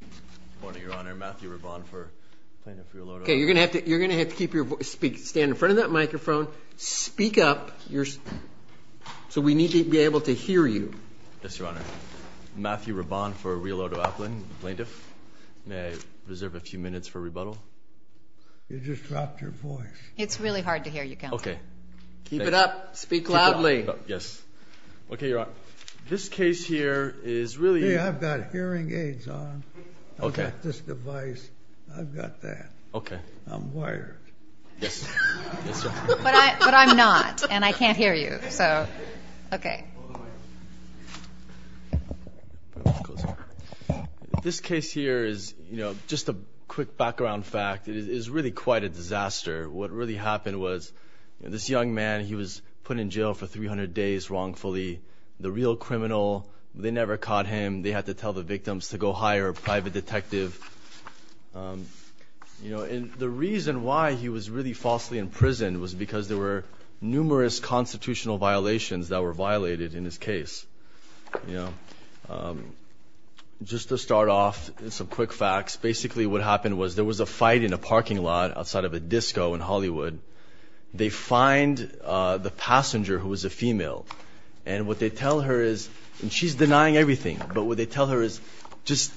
Good morning, Your Honor. Matthew Rabban for Plaintiff, Realordo Appling. Okay, you're going to have to keep your voice—stand in front of that microphone. Speak up, so we need to be able to hear you. Yes, Your Honor. Matthew Rabban for Realordo Appling, Plaintiff. May I reserve a few minutes for rebuttal? You just dropped your voice. It's really hard to hear you, Counselor. Okay. Keep it up. Speak loudly. Yes. Okay, Your Honor. This case here is really— Hold on. I've got this device. I've got that. Okay. I'm wired. Yes, Your Honor. But I'm not, and I can't hear you, so—okay. This case here is, you know, just a quick background fact. It is really quite a disaster. What really happened was this young man, he was put in jail for 300 days wrongfully. The real criminal, they never caught him. They had to tell the victims to go hire a private detective. And the reason why he was really falsely imprisoned was because there were numerous constitutional violations that were violated in his case. Just to start off, some quick facts. Basically, what happened was there was a fight in a parking lot outside of a disco in Hollywood. They find the passenger, who was a female, and what they tell her is— just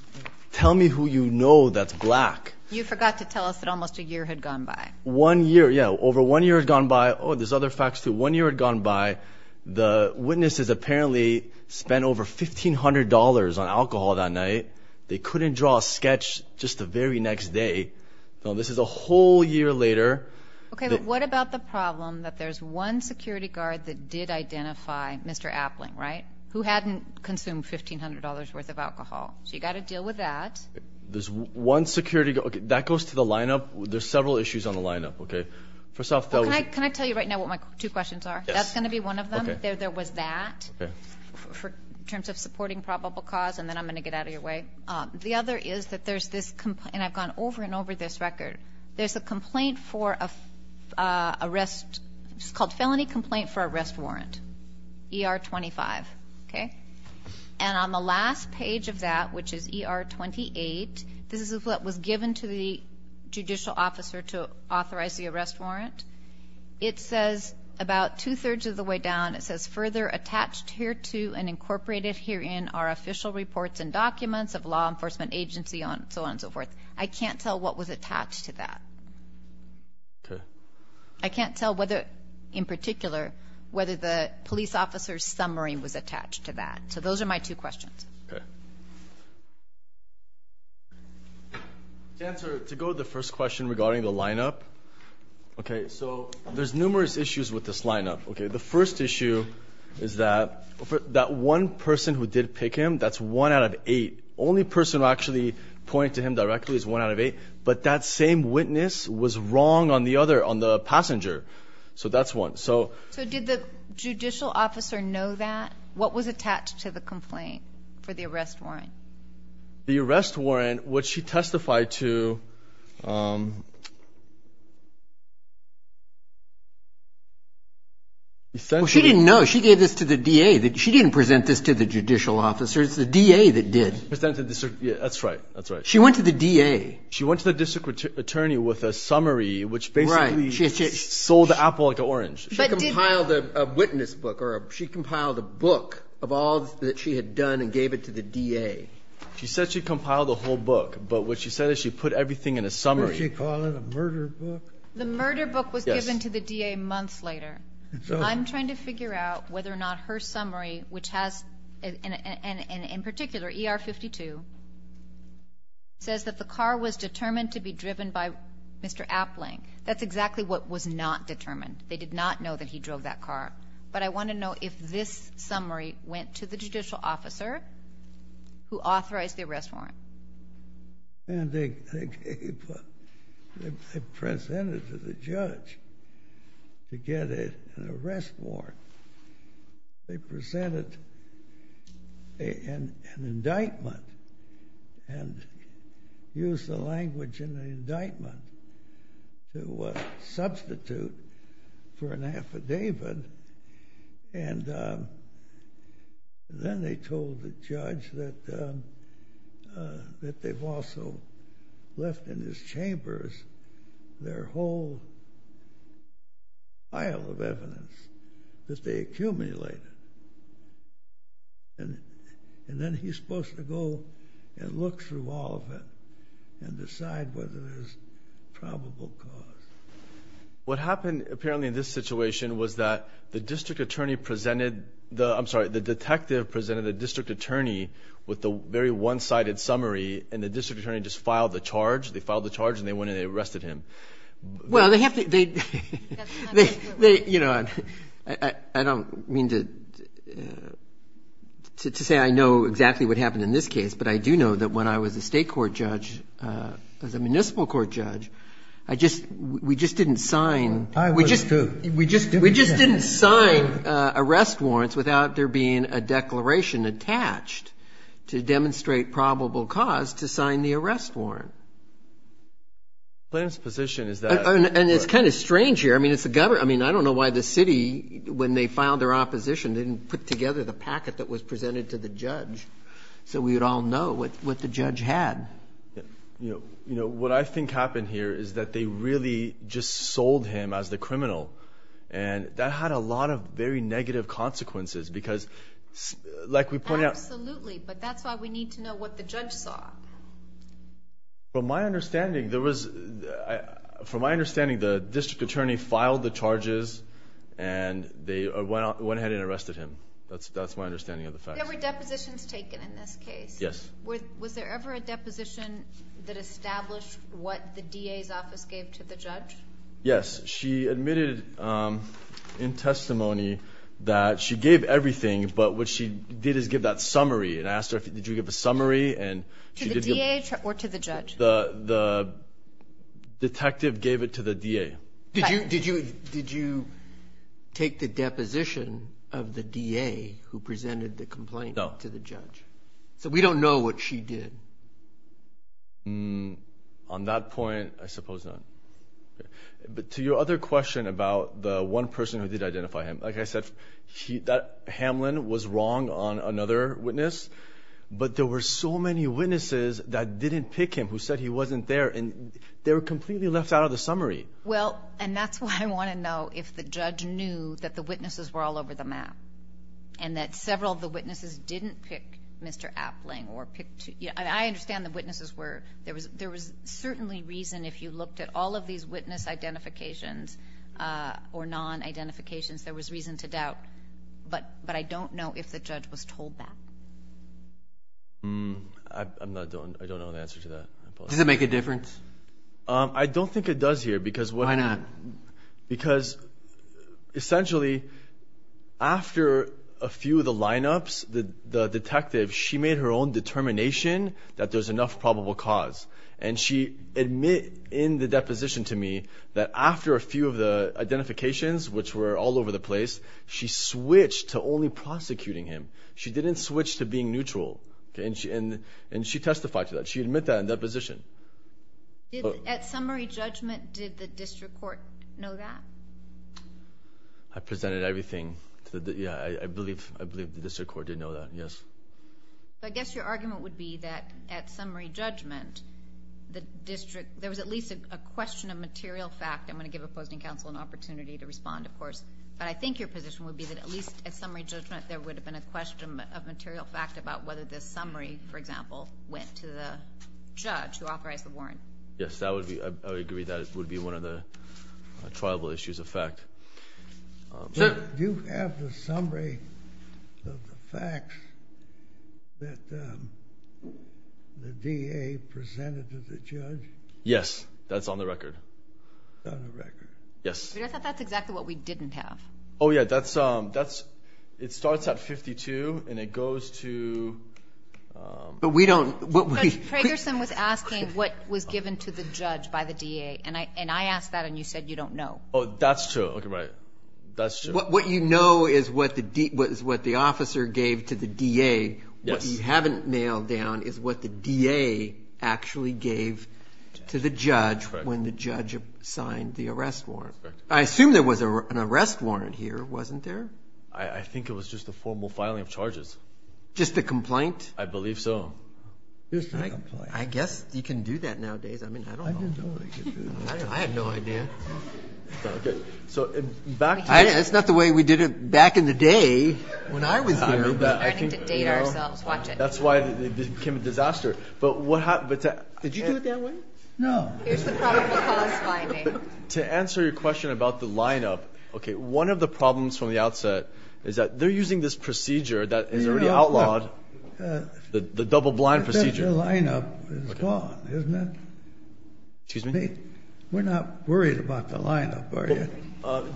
tell me who you know that's black. You forgot to tell us that almost a year had gone by. One year, yeah. Over one year had gone by. Oh, there's other facts, too. One year had gone by. The witnesses apparently spent over $1,500 on alcohol that night. They couldn't draw a sketch just the very next day. This is a whole year later. Okay, but what about the problem that there's one security guard that did identify Mr. Appling, right? Who hadn't consumed $1,500 worth of alcohol. So you've got to deal with that. There's one security—that goes to the lineup. There's several issues on the lineup, okay? First off— Can I tell you right now what my two questions are? Yes. That's going to be one of them. Okay. There was that in terms of supporting probable cause, and then I'm going to get out of your way. The other is that there's this—and I've gone over and over this record. There's a complaint for arrest—it's called Felony Complaint for Arrest Warrant, ER-25, okay? And on the last page of that, which is ER-28, this is what was given to the judicial officer to authorize the arrest warrant. It says about two-thirds of the way down, it says, and incorporated herein are official reports and documents of law enforcement agency and so on and so forth. I can't tell what was attached to that. Okay. I can't tell whether, in particular, whether the police officer's summary was attached to that. So those are my two questions. Okay. To answer—to go to the first question regarding the lineup, okay? So there's numerous issues with this lineup, okay? The first issue is that that one person who did pick him, that's one out of eight. The only person who actually pointed to him directly is one out of eight, but that same witness was wrong on the other, on the passenger. So that's one. So did the judicial officer know that? What was attached to the complaint for the arrest warrant? The arrest warrant, which she testified to— Well, she didn't know. She gave this to the DA. She didn't present this to the judicial officer. It's the DA that did. That's right. That's right. She went to the DA. She went to the district attorney with a summary, which basically sold the apple like the orange. She compiled a witness book, or she compiled a book of all that she had done and gave it to the DA. She said she compiled the whole book, but what she said is she put everything in a summary. Did she call it a murder book? The murder book was given to the DA months later. I'm trying to figure out whether or not her summary, which has, in particular, ER 52, says that the car was determined to be driven by Mr. Appling. That's exactly what was not determined. They did not know that he drove that car. But I want to know if this summary went to the judicial officer who authorized the arrest warrant. They presented it to the judge to get an arrest warrant. They presented an indictment and used the language in the indictment to substitute for an affidavit. Then they told the judge that they've also left in his chambers their whole pile of evidence that they accumulated. Then he's supposed to go and look through all of it and decide whether there's probable cause. What happened, apparently, in this situation was that the district attorney presented the – I'm sorry, the detective presented the district attorney with the very one-sided summary, and the district attorney just filed the charge. They filed the charge, and they went in and arrested him. Well, they have to – I don't mean to say I know exactly what happened in this case, but I do know that when I was a state court judge, as a municipal court judge, I just – we just didn't sign – I was, too. We just didn't sign arrest warrants without there being a declaration attached to demonstrate probable cause to sign the arrest warrant. The plaintiff's position is that – And it's kind of strange here. I mean, it's the – I mean, I don't know why the city, when they filed their opposition, didn't put together the packet that was presented to the judge so we would all know what the judge had. You know, what I think happened here is that they really just sold him as the criminal, and that had a lot of very negative consequences because, like we pointed out – Absolutely, but that's why we need to know what the judge saw. From my understanding, there was – from my understanding, the district attorney filed the charges, and they went ahead and arrested him. That's my understanding of the facts. There were depositions taken in this case. Yes. Was there ever a deposition that established what the DA's office gave to the judge? Yes. She admitted in testimony that she gave everything, but what she did is give that summary and asked her, did you give a summary? To the DA or to the judge? The detective gave it to the DA. Did you take the deposition of the DA who presented the complaint to the judge? No. So we don't know what she did. On that point, I suppose not. But to your other question about the one person who did identify him, like I said, Hamlin was wrong on another witness, but there were so many witnesses that didn't pick him, who said he wasn't there, and they were completely left out of the summary. Well, and that's why I want to know if the judge knew that the witnesses were all over the map and that several of the witnesses didn't pick Mr. Appling. I understand the witnesses were. There was certainly reason if you looked at all of these witness identifications or non-identifications, there was reason to doubt. But I don't know if the judge was told that. I don't know the answer to that. Does it make a difference? I don't think it does here. Why not? Because, essentially, after a few of the lineups, the detective, she made her own determination that there's enough probable cause, and she admitted in the deposition to me that after a few of the identifications, which were all over the place, she switched to only prosecuting him. She didn't switch to being neutral, and she testified to that. She admitted that in the deposition. At summary judgment, did the district court know that? I presented everything to the... Yeah, I believe the district court did know that, yes. I guess your argument would be that at summary judgment, there was at least a question of material fact. I'm going to give opposing counsel an opportunity to respond, of course. But I think your position would be that at least at summary judgment, there would have been a question of material fact about whether the summary, for example, went to the judge who authorized the warrant. Yes, I would agree that would be one of the triable issues of fact. Do you have the summary of the facts that the DA presented to the judge? Yes. That's on the record. On the record. Yes. I thought that's exactly what we didn't have. Oh, yeah. It starts at 52, and it goes to... But we don't... But Fragerson was asking what was given to the judge by the DA, and I asked that, and you said you don't know. Oh, that's true. Okay, right. That's true. What you know is what the officer gave to the DA. What you haven't nailed down is what the DA actually gave to the judge when the judge signed the arrest warrant. I assume there was an arrest warrant here, wasn't there? I think it was just a formal filing of charges. Just a complaint? I believe so. I guess you can do that nowadays. I mean, I don't know. I have no idea. So, in fact... That's not the way we did it back in the day when I was here. We're starting to date ourselves. Watch it. That's why it became a disaster. But what happened... Did you do it that way? No. Here's the probable cause finding. To answer your question about the lineup, one of the problems from the outset is that they're using this procedure that is already outlawed, the double-blind procedure. The lineup is gone, isn't it? Excuse me? We're not worried about the lineup, are you?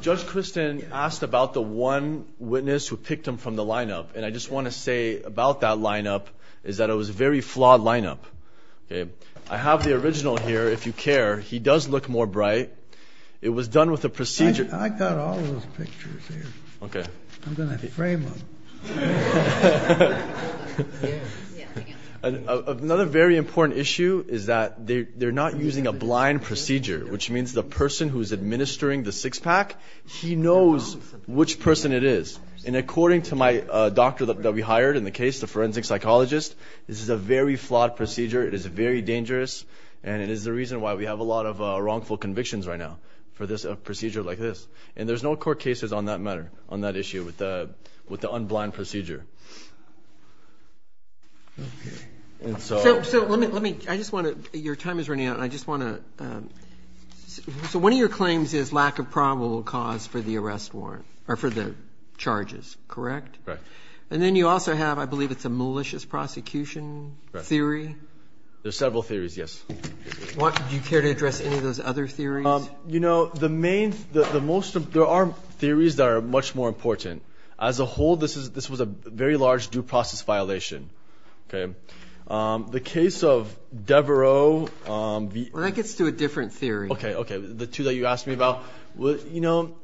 Judge Christin asked about the one witness who picked him from the lineup, and I just want to say about that lineup is that it was a very flawed lineup. I have the original here, if you care. He does look more bright. It was done with a procedure... I got all of those pictures here. Okay. I'm going to frame them. Another very important issue is that they're not using a blind procedure, which means the person who's administering the six-pack, he knows which person it is. And according to my doctor that we hired in the case, the forensic psychologist, this is a very flawed procedure. It is very dangerous, and it is the reason why we have a lot of wrongful convictions right now for a procedure like this. And there's no court cases on that matter, on that issue, with the unblind procedure. Okay. So let me... I just want to... Your time is running out, and I just want to... So one of your claims is lack of probable cause for the arrest warrant, or for the charges, correct? Right. And then you also have, I believe it's a malicious prosecution theory? There are several theories, yes. Do you care to address any of those other theories? You know, the main... There are theories that are much more important. As a whole, this was a very large due process violation. Okay. The case of Devereaux... Well, that gets to a different theory. Okay, okay. The two that you asked me about, you know...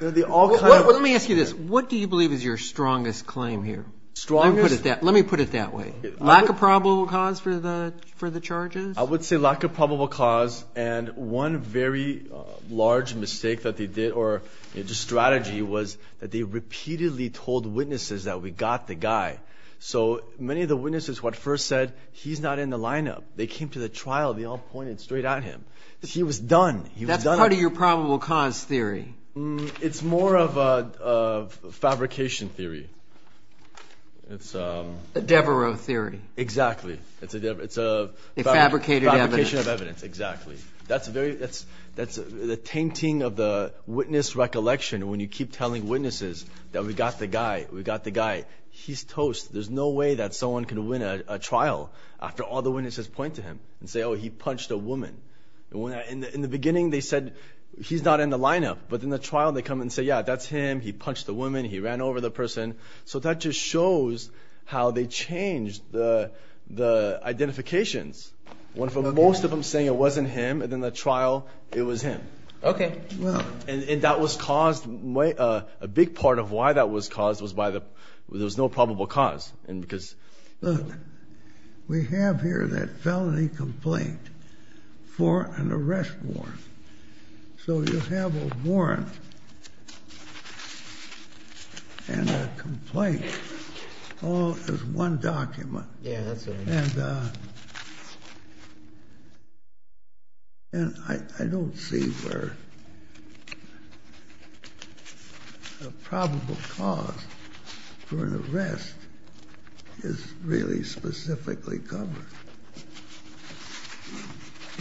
Let me ask you this. What do you believe is your strongest claim here? Strongest? Let me put it that way. Lack of probable cause for the charges? I would say lack of probable cause. And one very large mistake that they did, or just strategy, was that they repeatedly told witnesses that we got the guy. So many of the witnesses, what first said, he's not in the lineup. They came to the trial. They all pointed straight at him. He was done. He was done. That's part of your probable cause theory? It's more of a fabrication theory. It's a... A Devereaux theory. Exactly. It's a... A fabricated evidence. Fabrication of evidence. Exactly. That's the tainting of the witness recollection when you keep telling witnesses that we got the guy. We got the guy. He's toast. There's no way that someone can win a trial after all the witnesses point to him and say, oh, he punched a woman. In the beginning, they said, he's not in the lineup. But in the trial, they come and say, yeah, that's him. He punched a woman. He ran over the person. So that just shows how they change the identifications. When for most of them saying it wasn't him, and then the trial, it was him. Okay. And that was caused... A big part of why that was caused was by the... There was no probable cause because... Look, we have here that felony complaint for an arrest warrant. So you have a warrant and a complaint all as one document. Yeah, that's right. And I don't see where a probable cause for an arrest is really specifically covered.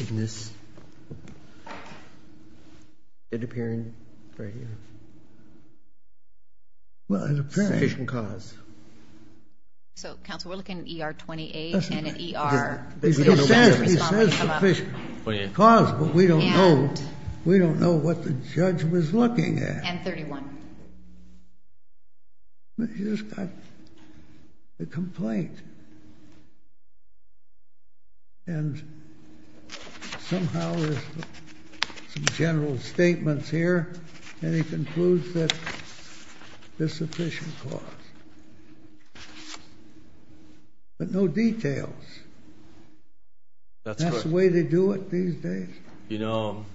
In this... It's appearing right here. Well, it appears... Sufficient cause. So, counsel, we're looking at ER 28 and an ER... He says sufficient cause, but we don't know what the judge was looking at. And 31. He just got the complaint. And somehow there's some general statements here, and he concludes that there's sufficient cause. But no details. That's the way they do it these days. You know,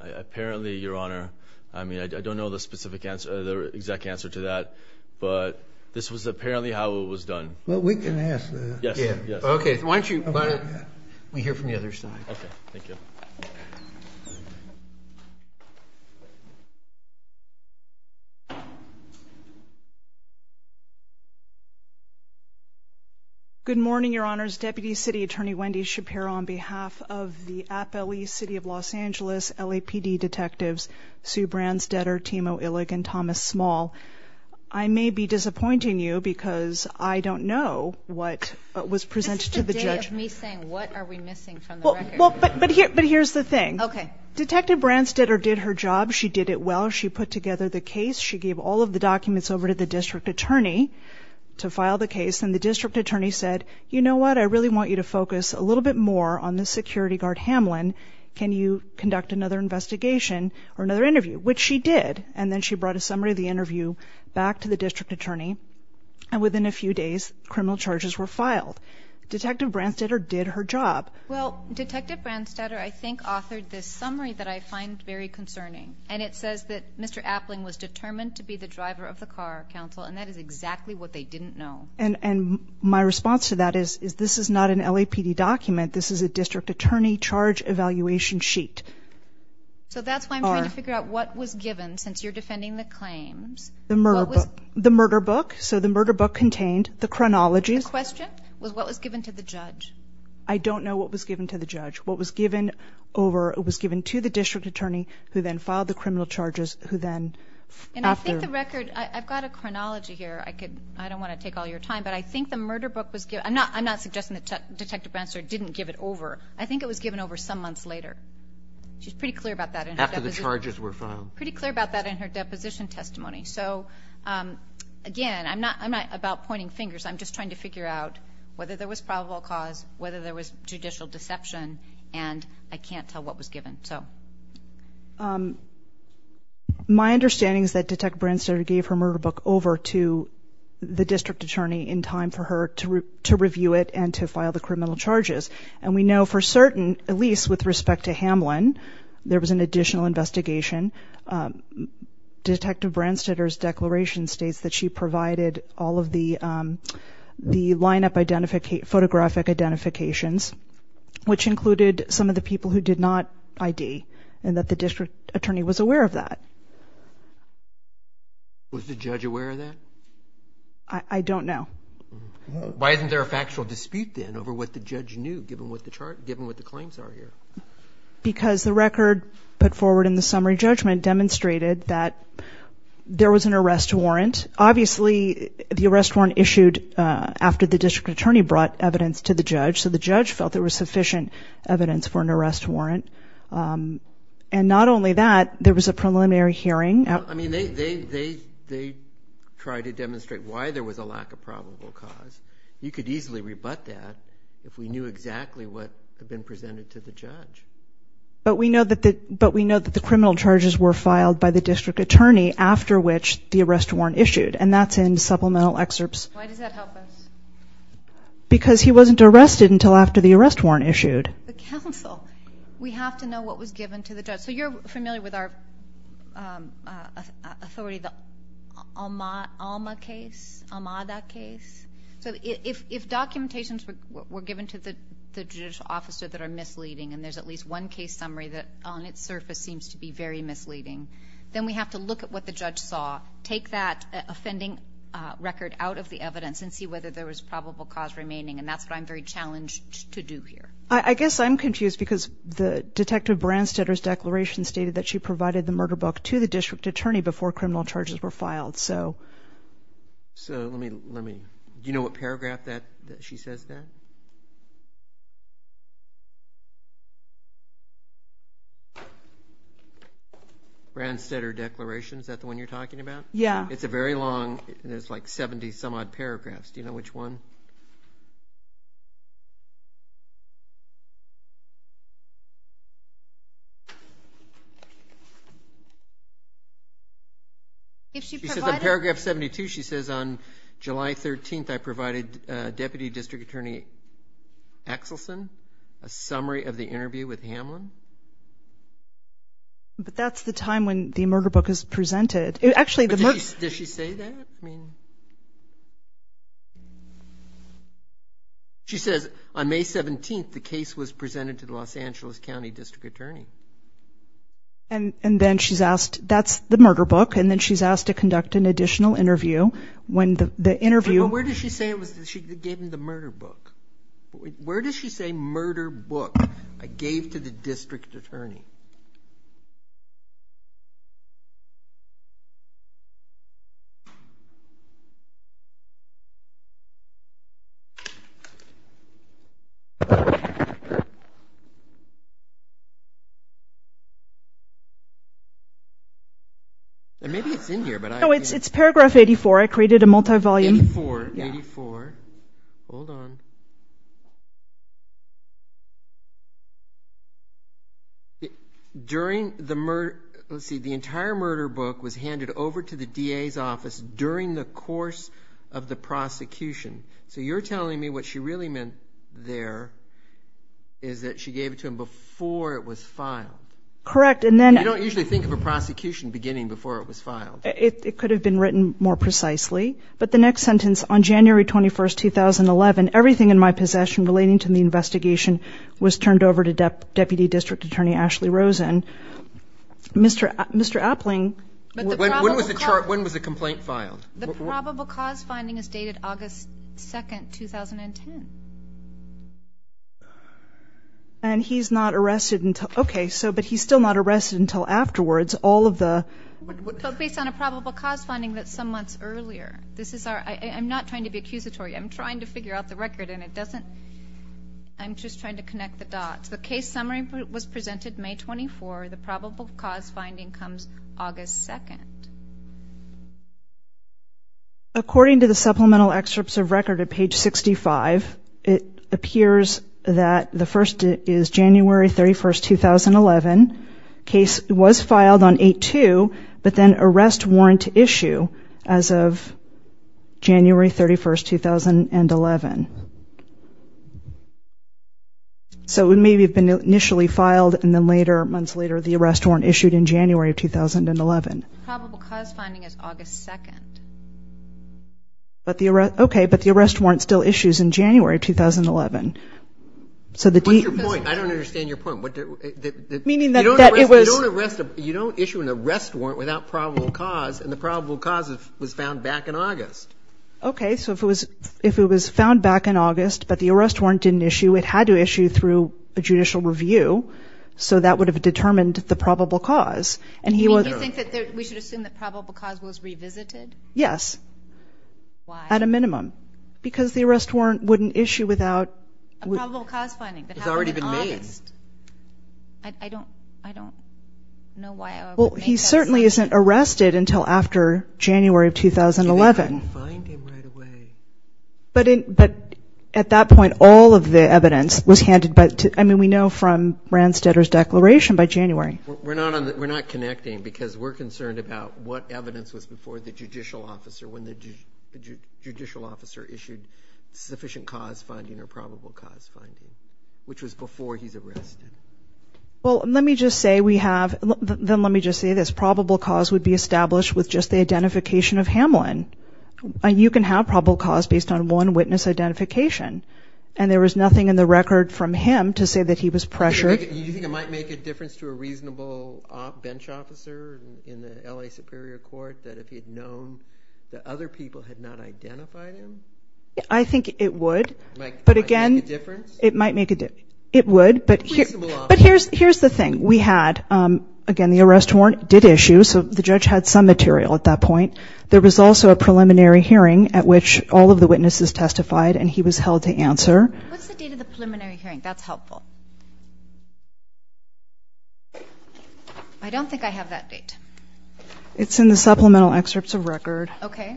apparently, Your Honor... I mean, I don't know the exact answer to that, but this was apparently how it was done. Well, we can ask that. Yes. Okay. Why don't you... We hear from the other side. Okay. Thank you. Good morning, Your Honors. Deputy City Attorney Wendy Shapiro on behalf of the Appellee City of Los Angeles LAPD detectives Sue Bransdetter, Timo Illig, and Thomas Small. I may be disappointing you because I don't know what was presented to the judge. This is the day of me saying, what are we missing from the record? Well, but here's the thing. Okay. Detective Bransdetter did her job. She did it well. She put together the case. She gave all of the documents over to the district attorney to file the case. And the district attorney said, you know what? I really want you to focus a little bit more on the security guard, Hamlin. Can you conduct another investigation or another interview? Which she did. And then she brought a summary of the interview back to the district attorney. And within a few days, criminal charges were filed. Detective Bransdetter did her job. Well, Detective Bransdetter, I think, authored this summary that I find very concerning. And it says that Mr. Appling was determined to be the driver of the car, counsel. And that is exactly what they didn't know. And my response to that is, this is not an LAPD document. This is a district attorney charge evaluation sheet. So that's why I'm trying to figure out what was given since you're defending the claims. The murder book. The murder book. So the murder book contained the chronology. The question was what was given to the judge. I don't know what was given to the judge. What was given over was given to the district attorney who then filed the criminal charges. And I think the record, I've got a chronology here. I don't want to take all your time. But I think the murder book was given. I'm not suggesting that Detective Bransdetter didn't give it over. I think it was given over some months later. She's pretty clear about that. After the charges were filed. Pretty clear about that in her deposition testimony. So, again, I'm not about pointing fingers. I'm just trying to figure out whether there was probable cause, whether there was judicial deception, and I can't tell what was given. My understanding is that Detective Bransdetter gave her murder book over to the district attorney in time for her to review it and to file the criminal charges. And we know for certain, at least with respect to Hamlin, there was an additional investigation. Detective Bransdetter's declaration states that she provided all of the lineup photographic identifications, which included some of the people who did not ID, and that the district attorney was aware of that. Was the judge aware of that? I don't know. Why isn't there a factual dispute, then, over what the judge knew, given what the claims are here? Because the record put forward in the summary judgment demonstrated that there was an arrest warrant. Obviously, the arrest warrant issued after the district attorney brought evidence to the judge, so the judge felt there was sufficient evidence for an arrest warrant. And not only that, there was a preliminary hearing. I mean, they tried to demonstrate why there was a lack of probable cause. You could easily rebut that if we knew exactly what had been presented to the judge. But we know that the criminal charges were filed by the district attorney after which the arrest warrant issued, and that's in supplemental excerpts. Why does that help us? Because he wasn't arrested until after the arrest warrant issued. The counsel. We have to know what was given to the judge. So you're familiar with our authority, the Alma case, Amada case? So if documentations were given to the judicial officer that are misleading, and there's at least one case summary that on its surface seems to be very misleading, then we have to look at what the judge saw, take that offending record out of the evidence, and see whether there was probable cause remaining. And that's what I'm very challenged to do here. I guess I'm confused because the detective Branstetter's declaration stated that she provided the murder book to the district attorney before criminal charges were filed. Do you know what paragraph she says that? Branstetter declaration, is that the one you're talking about? Yeah. It's a very long, it's like 70-some-odd paragraphs. Do you know which one? She says on paragraph 72 she says, on July 13th I provided Deputy District Attorney Axelson a summary of the interview with Hamlin. But that's the time when the murder book is presented. Actually the murder book. Does she say that? She says on May 17th the case was presented to the Los Angeles County District Attorney. And then she's asked, that's the murder book, and then she's asked to conduct an additional interview when the interview. But where does she say it was that she gave him the murder book? Where does she say murder book I gave to the district attorney? Maybe it's in here. It's paragraph 84. I created a multi-volume. 84. Hold on. During the murder, let's see, the entire murder book was handed over to the DA's office during the course of the prosecution. So you're telling me what she really meant there is that she gave it to him before it was filed. Correct. And then. You don't usually think of a prosecution beginning before it was filed. It could have been written more precisely. But the next sentence, on January 21st, 2011, everything in my possession relating to the investigation was turned over to Deputy District Attorney Ashley Rosen. Mr. Appling. When was the complaint filed? The probable cause finding is dated August 2nd, 2010. And he's not arrested until, okay, but he's still not arrested until afterwards. Based on a probable cause finding that's some months earlier. I'm not trying to be accusatory. I'm trying to figure out the record, and I'm just trying to connect the dots. The case summary was presented May 24. The probable cause finding comes August 2nd. According to the supplemental excerpts of record at page 65, it appears that the first is January 31st, 2011. Case was filed on 8-2, but then arrest warrant issue as of January 31st, 2011. So it may have been initially filed, and then later, months later, the arrest warrant issued in January of 2011. The probable cause finding is August 2nd. Okay, but the arrest warrant still issues in January of 2011. What's your point? I don't understand your point. Meaning that it was. You don't issue an arrest warrant without probable cause, and the probable cause was found back in August. Okay, so if it was found back in August, but the arrest warrant didn't issue, it had to issue through a judicial review, so that would have determined the probable cause. Do you think that we should assume that probable cause was revisited? Yes. Why? At a minimum. Because the arrest warrant wouldn't issue without. A probable cause finding that happened in August. I don't know why I would make that assumption. Well, he certainly isn't arrested until after January of 2011. So they couldn't find him right away. But at that point, all of the evidence was handed back to, I mean, we know from Randstetter's declaration by January. We're not connecting, because we're concerned about what evidence was before the judicial officer, when the judicial officer issued sufficient cause finding or probable cause finding, which was before he's arrested. Well, let me just say we have – then let me just say this. Probable cause would be established with just the identification of Hamlin. You can have probable cause based on one witness identification, and there was nothing in the record from him to say that he was pressured. Do you think it might make a difference to a reasonable bench officer in the L.A. Superior Court that if he had known that other people had not identified him? I think it would. It might make a difference? It might make a difference. It would, but here's the thing. We had, again, the arrest warrant did issue, so the judge had some material at that point. There was also a preliminary hearing at which all of the witnesses testified, and he was held to answer. What's the date of the preliminary hearing? That's helpful. I don't think I have that date. It's in the supplemental excerpts of record. Okay.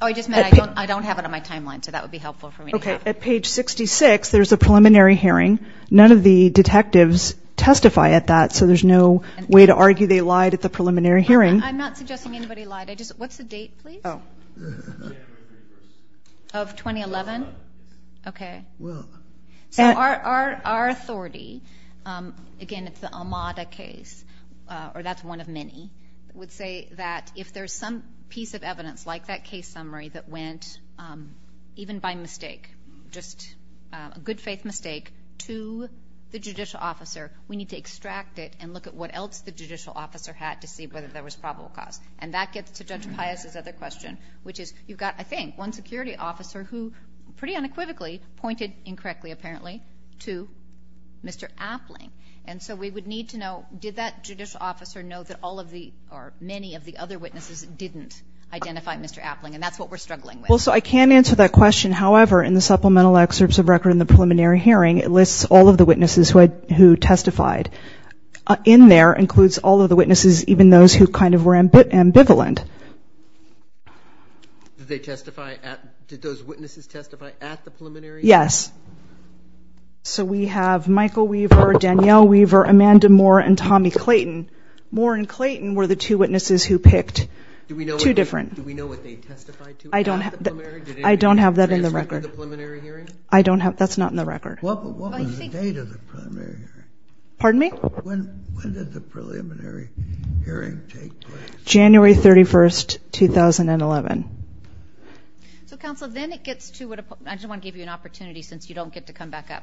so that would be helpful for me to have. Okay. At page 66, there's a preliminary hearing. None of the detectives testify at that, so there's no way to argue they lied at the preliminary hearing. I'm not suggesting anybody lied. What's the date, please? Of 2011? Okay. So our authority, again, it's the Almada case, or that's one of many, would say that if there's some piece of evidence, like that case summary that went, even by mistake, just a good-faith mistake to the judicial officer, we need to extract it and look at what else the judicial officer had to see whether there was probable cause. And that gets to Judge Pius' other question, which is you've got, I think, one security officer who, pretty unequivocally, pointed incorrectly, apparently, to Mr. Appling. And so we would need to know, did that judicial officer know that all of the, or many of the other witnesses didn't identify Mr. Appling? And that's what we're struggling with. Well, so I can answer that question. However, in the supplemental excerpts of record in the preliminary hearing, it lists all of the witnesses who testified. In there, includes all of the witnesses, even those who kind of were ambivalent. Did they testify at, did those witnesses testify at the preliminary hearing? Yes. So we have Michael Weaver, Danielle Weaver, Amanda Moore, and Tommy Clayton. Moore and Clayton were the two witnesses who picked two different. Do we know what they testified to at the preliminary? I don't have that in the record. Did they testify at the preliminary hearing? I don't have that. That's not in the record. What was the date of the preliminary hearing? Pardon me? When did the preliminary hearing take place? January 31, 2011. So, counsel, then it gets to what, I just want to give you an opportunity since you don't get to come back up.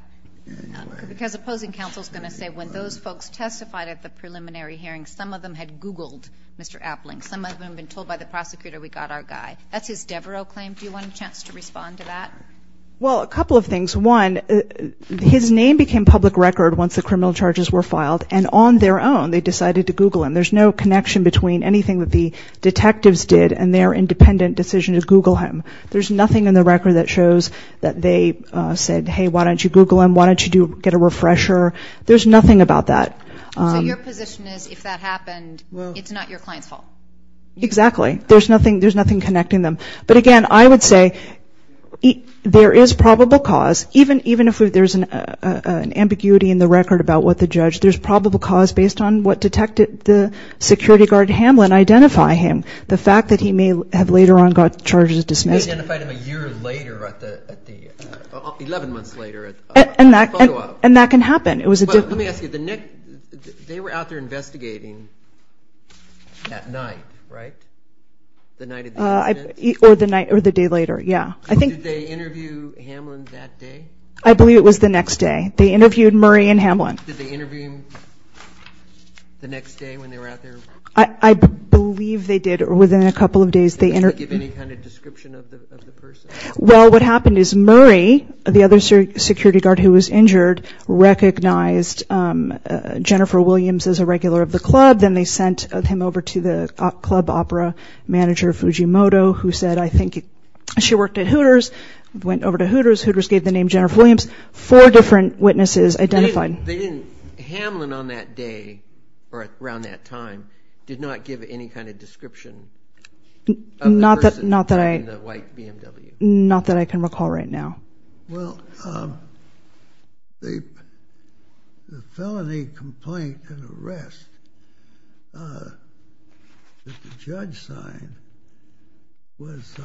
Because opposing counsel is going to say, when those folks testified at the preliminary hearing, some of them had Googled Mr. Appling. Some of them had been told by the prosecutor we got our guy. That's his Devereux claim. Do you want a chance to respond to that? Well, a couple of things. One, his name became public record once the criminal charges were filed. And on their own, they decided to Google him. There's no connection between anything that the detectives did and their independent decision to Google him. There's nothing in the record that shows that they said, hey, why don't you Google him? Why don't you get a refresher? There's nothing about that. So your position is, if that happened, it's not your client's fault? Exactly. There's nothing connecting them. But again, I would say there is probable cause, even if there's an ambiguity in the record about what the judge, there's probable cause based on what the security guard, Hamlin, identified him. The fact that he may have later on got charges dismissed. He may have identified him a year later, 11 months later. And that can happen. Let me ask you, they were out there investigating at night, right? The night of the incident? Or the day later, yeah. Did they interview Hamlin that day? I believe it was the next day. They interviewed Murray and Hamlin. Did they interview him the next day when they were out there? I believe they did. Within a couple of days, they interviewed him. Did they give any kind of description of the person? Well, what happened is, Murray, the other security guard who was injured, recognized Jennifer Williams as a regular of the club. Then they sent him over to the club opera manager, Fujimoto, who said, I think she worked at Hooters. Went over to Hooters. Hooters gave the name Jennifer Williams. Four different witnesses identified. Hamlin on that day, or around that time, did not give any kind of description of the person in the white BMW? Not that I can recall right now. Well, the felony complaint and arrest that the judge signed was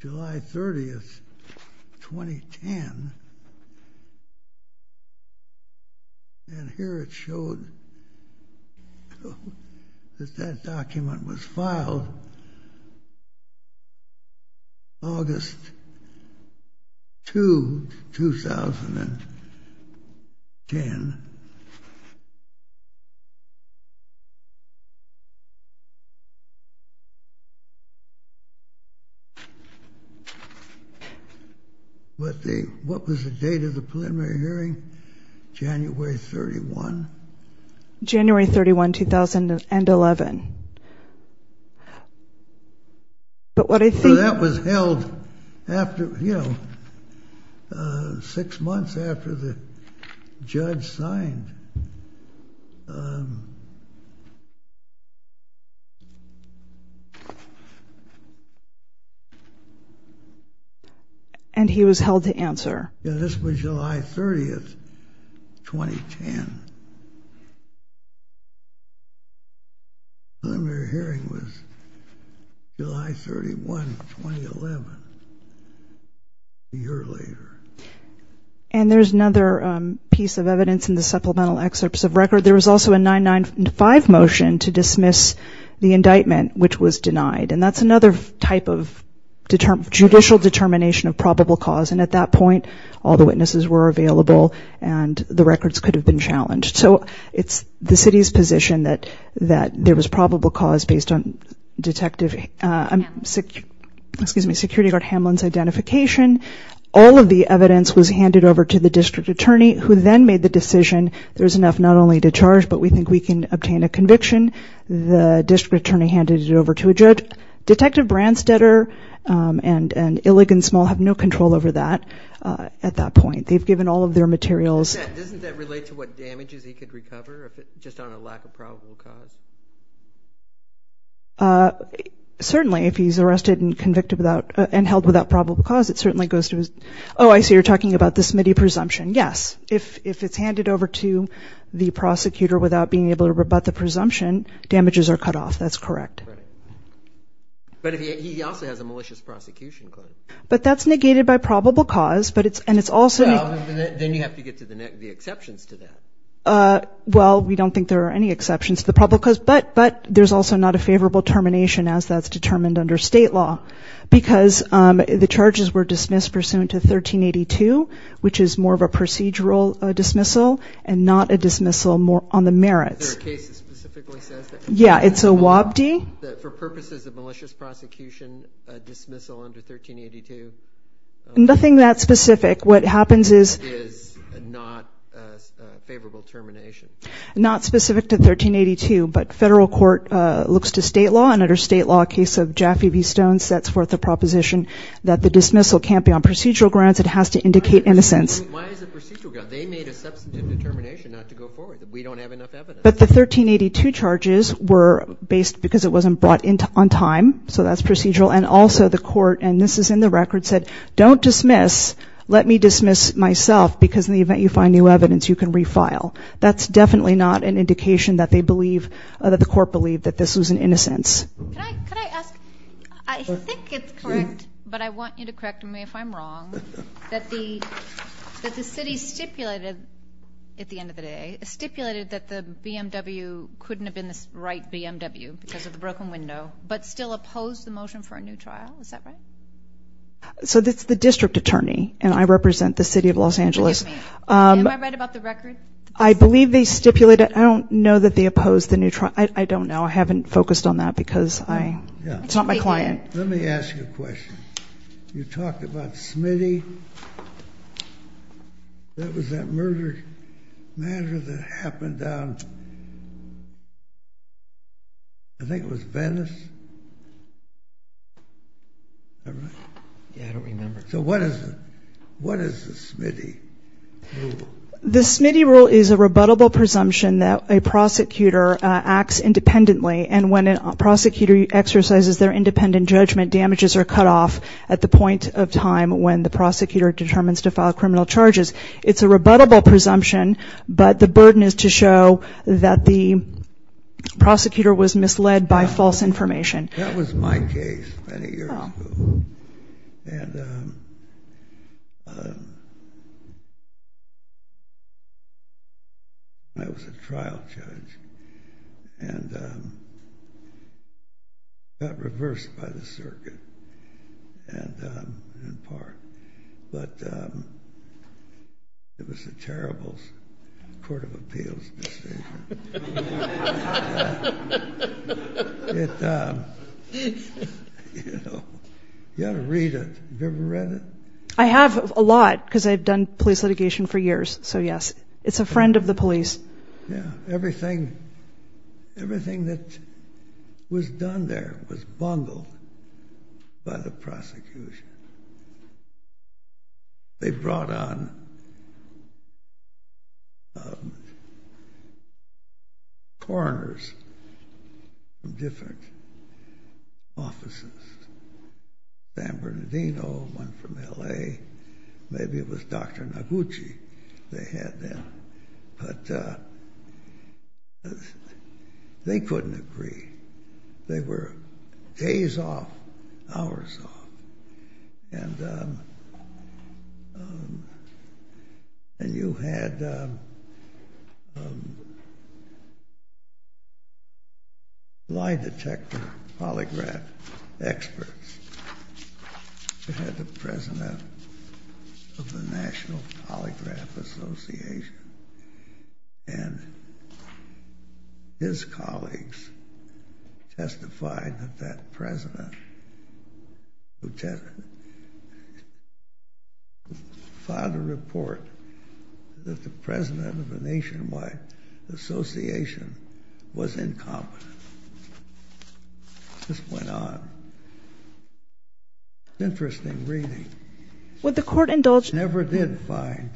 July 30, 2010. And here it showed that that document was filed August 2, 2010. But what was the date of the preliminary hearing? January 31. January 31, 2011. But what I think- So that was held after, you know, six months after the judge signed that document. He signed. And he was held to answer. Yeah, this was July 30, 2010. The preliminary hearing was July 31, 2011, a year later. And there's another piece of evidence in the supplemental excerpts of record. There was also a 995 motion to dismiss the indictment, which was denied. And that's another type of judicial determination of probable cause. And at that point, all the witnesses were available and the records could have been challenged. So it's the city's position that there was probable cause based on security guard Hamlin's identification. All of the evidence was handed over to the district attorney who then made the decision, there's enough not only to charge, but we think we can obtain a conviction. The district attorney handed it over to a judge. Detective Branstetter and Illig and Small have no control over that at that point. They've given all of their materials. Doesn't that relate to what damages he could recover just on a lack of probable cause? Certainly, if he's arrested and convicted without and held without probable cause, it certainly goes to his... Oh, I see you're talking about the Smitty presumption. Yes. If it's handed over to the prosecutor without being able to rebut the presumption, damages are cut off. That's correct. But he also has a malicious prosecution claim. But that's negated by probable cause, and it's also... Then you have to get to the exceptions to that. Well, we don't think there are any exceptions to the probable cause, but there's also not a favorable termination as that's determined under state law because the charges were dismissed pursuant to 1382, which is more of a procedural dismissal and not a dismissal on the merits. Is there a case that specifically says that? Yeah, it's a WAPD. For purposes of malicious prosecution, a dismissal under 1382... Nothing that specific. What happens is... ...is not a favorable termination. Not specific to 1382, but federal court looks to state law, and under state law, a case of Jaffe v. Stone sets forth the proposition that the dismissal can't be on procedural grounds. It has to indicate innocence. Why is it procedural grounds? They made a substantive determination not to go forward. We don't have enough evidence. But the 1382 charges were based because it wasn't brought on time, so that's procedural. And also the court, and this is in the record, said, don't dismiss, let me dismiss myself because in the event you find new evidence, you can refile. That's definitely not an indication that they believe, that the court believed that this was an innocence. Can I ask? I think it's correct, but I want you to correct me if I'm wrong, that the city stipulated, at the end of the day, stipulated that the BMW couldn't have been the right BMW because of the broken window, but still opposed the motion for a new trial. Is that right? So it's the district attorney, and I represent the city of Los Angeles. Am I right about the record? I believe they stipulated. I don't know that they opposed the new trial. I don't know. I haven't focused on that because it's not my client. Let me ask you a question. You talked about Smitty. That was that murder matter that happened down, I think it was Venice. Am I right? Yeah, I don't remember. So what is the Smitty rule? The Smitty rule is a rebuttable presumption that a prosecutor acts independently, and when a prosecutor exercises their independent judgment, damages are cut off at the point of time when the prosecutor determines to file criminal charges. It's a rebuttable presumption, but the burden is to show that the prosecutor was misled by false information. That was my case many years ago. I was a trial judge and got reversed by the circuit in part, but it was a terrible court of appeals mistake. You ought to read it. Have you ever read it? I have a lot because I've done police litigation for years, so yes. It's a friend of the police. Everything that was done there was bungled by the prosecution. They brought on coroners from different offices. San Bernardino, one from L.A. Maybe it was Dr. Noguchi they had then. They couldn't agree. They were days off, hours off. You had lie detector polygraph experts. You had the president of the National Polygraph Association, and his colleagues testified that that president who filed a report that the president of a nationwide association was incompetent. This went on. It's an interesting reading. I never did find.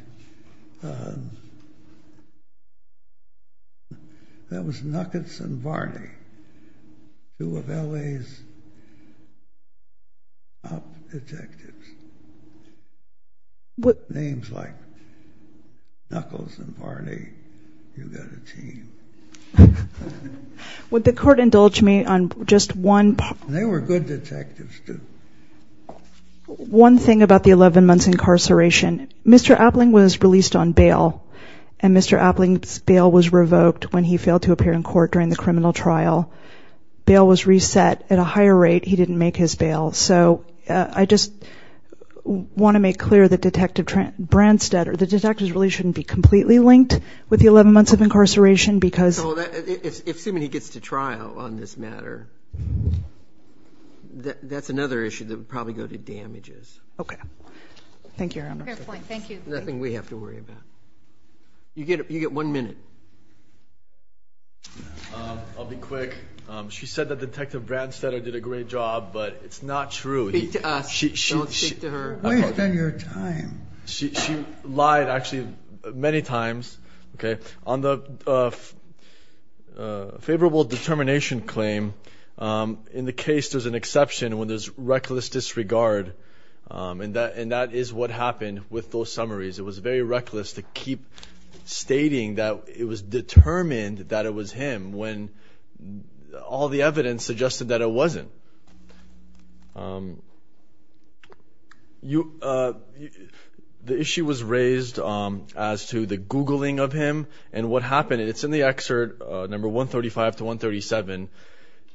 That was Nuckets and Varney, two of L.A.'s top detectives. Names like Nuckles and Varney, you've got a team. They were good detectives, too. One thing about the 11 months incarceration. Mr. Appling was released on bail, and Mr. Appling's bail was revoked when he failed to appear in court during the criminal trial. Bail was reset. At a higher rate, he didn't make his bail. So I just want to make clear that Detective Branstad or the detectives really shouldn't be completely linked with the 11 months of incarceration because of that. That's another issue that would probably go to damages. Okay. Thank you, Your Honor. Fair point. Thank you. Nothing we have to worry about. You get one minute. I'll be quick. She said that Detective Branstad did a great job, but it's not true. Speak to us. Don't speak to her. Waste of your time. She lied, actually, many times. On the favorable determination claim, in the case there's an exception when there's reckless disregard, and that is what happened with those summaries. It was very reckless to keep stating that it was determined that it was him when all the evidence suggested that it wasn't. The issue was raised as to the Googling of him and what happened. It's in the excerpt number 135 to 137.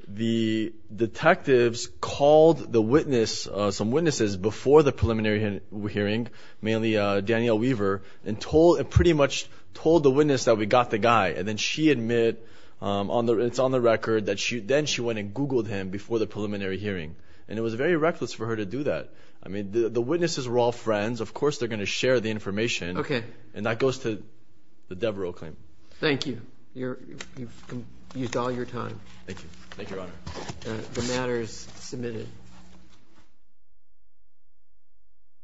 The detectives called some witnesses before the preliminary hearing, mainly Danielle Weaver, and pretty much told the witness that we got the guy, and then she admitted, it's on the record, that then she went and Googled him before the preliminary hearing, and it was very reckless for her to do that. The witnesses were all friends. Of course they're going to share the information, and that goes to the Devereux claim. Thank you. You've used all your time. Thank you. Thank you, Your Honor. The matter is submitted.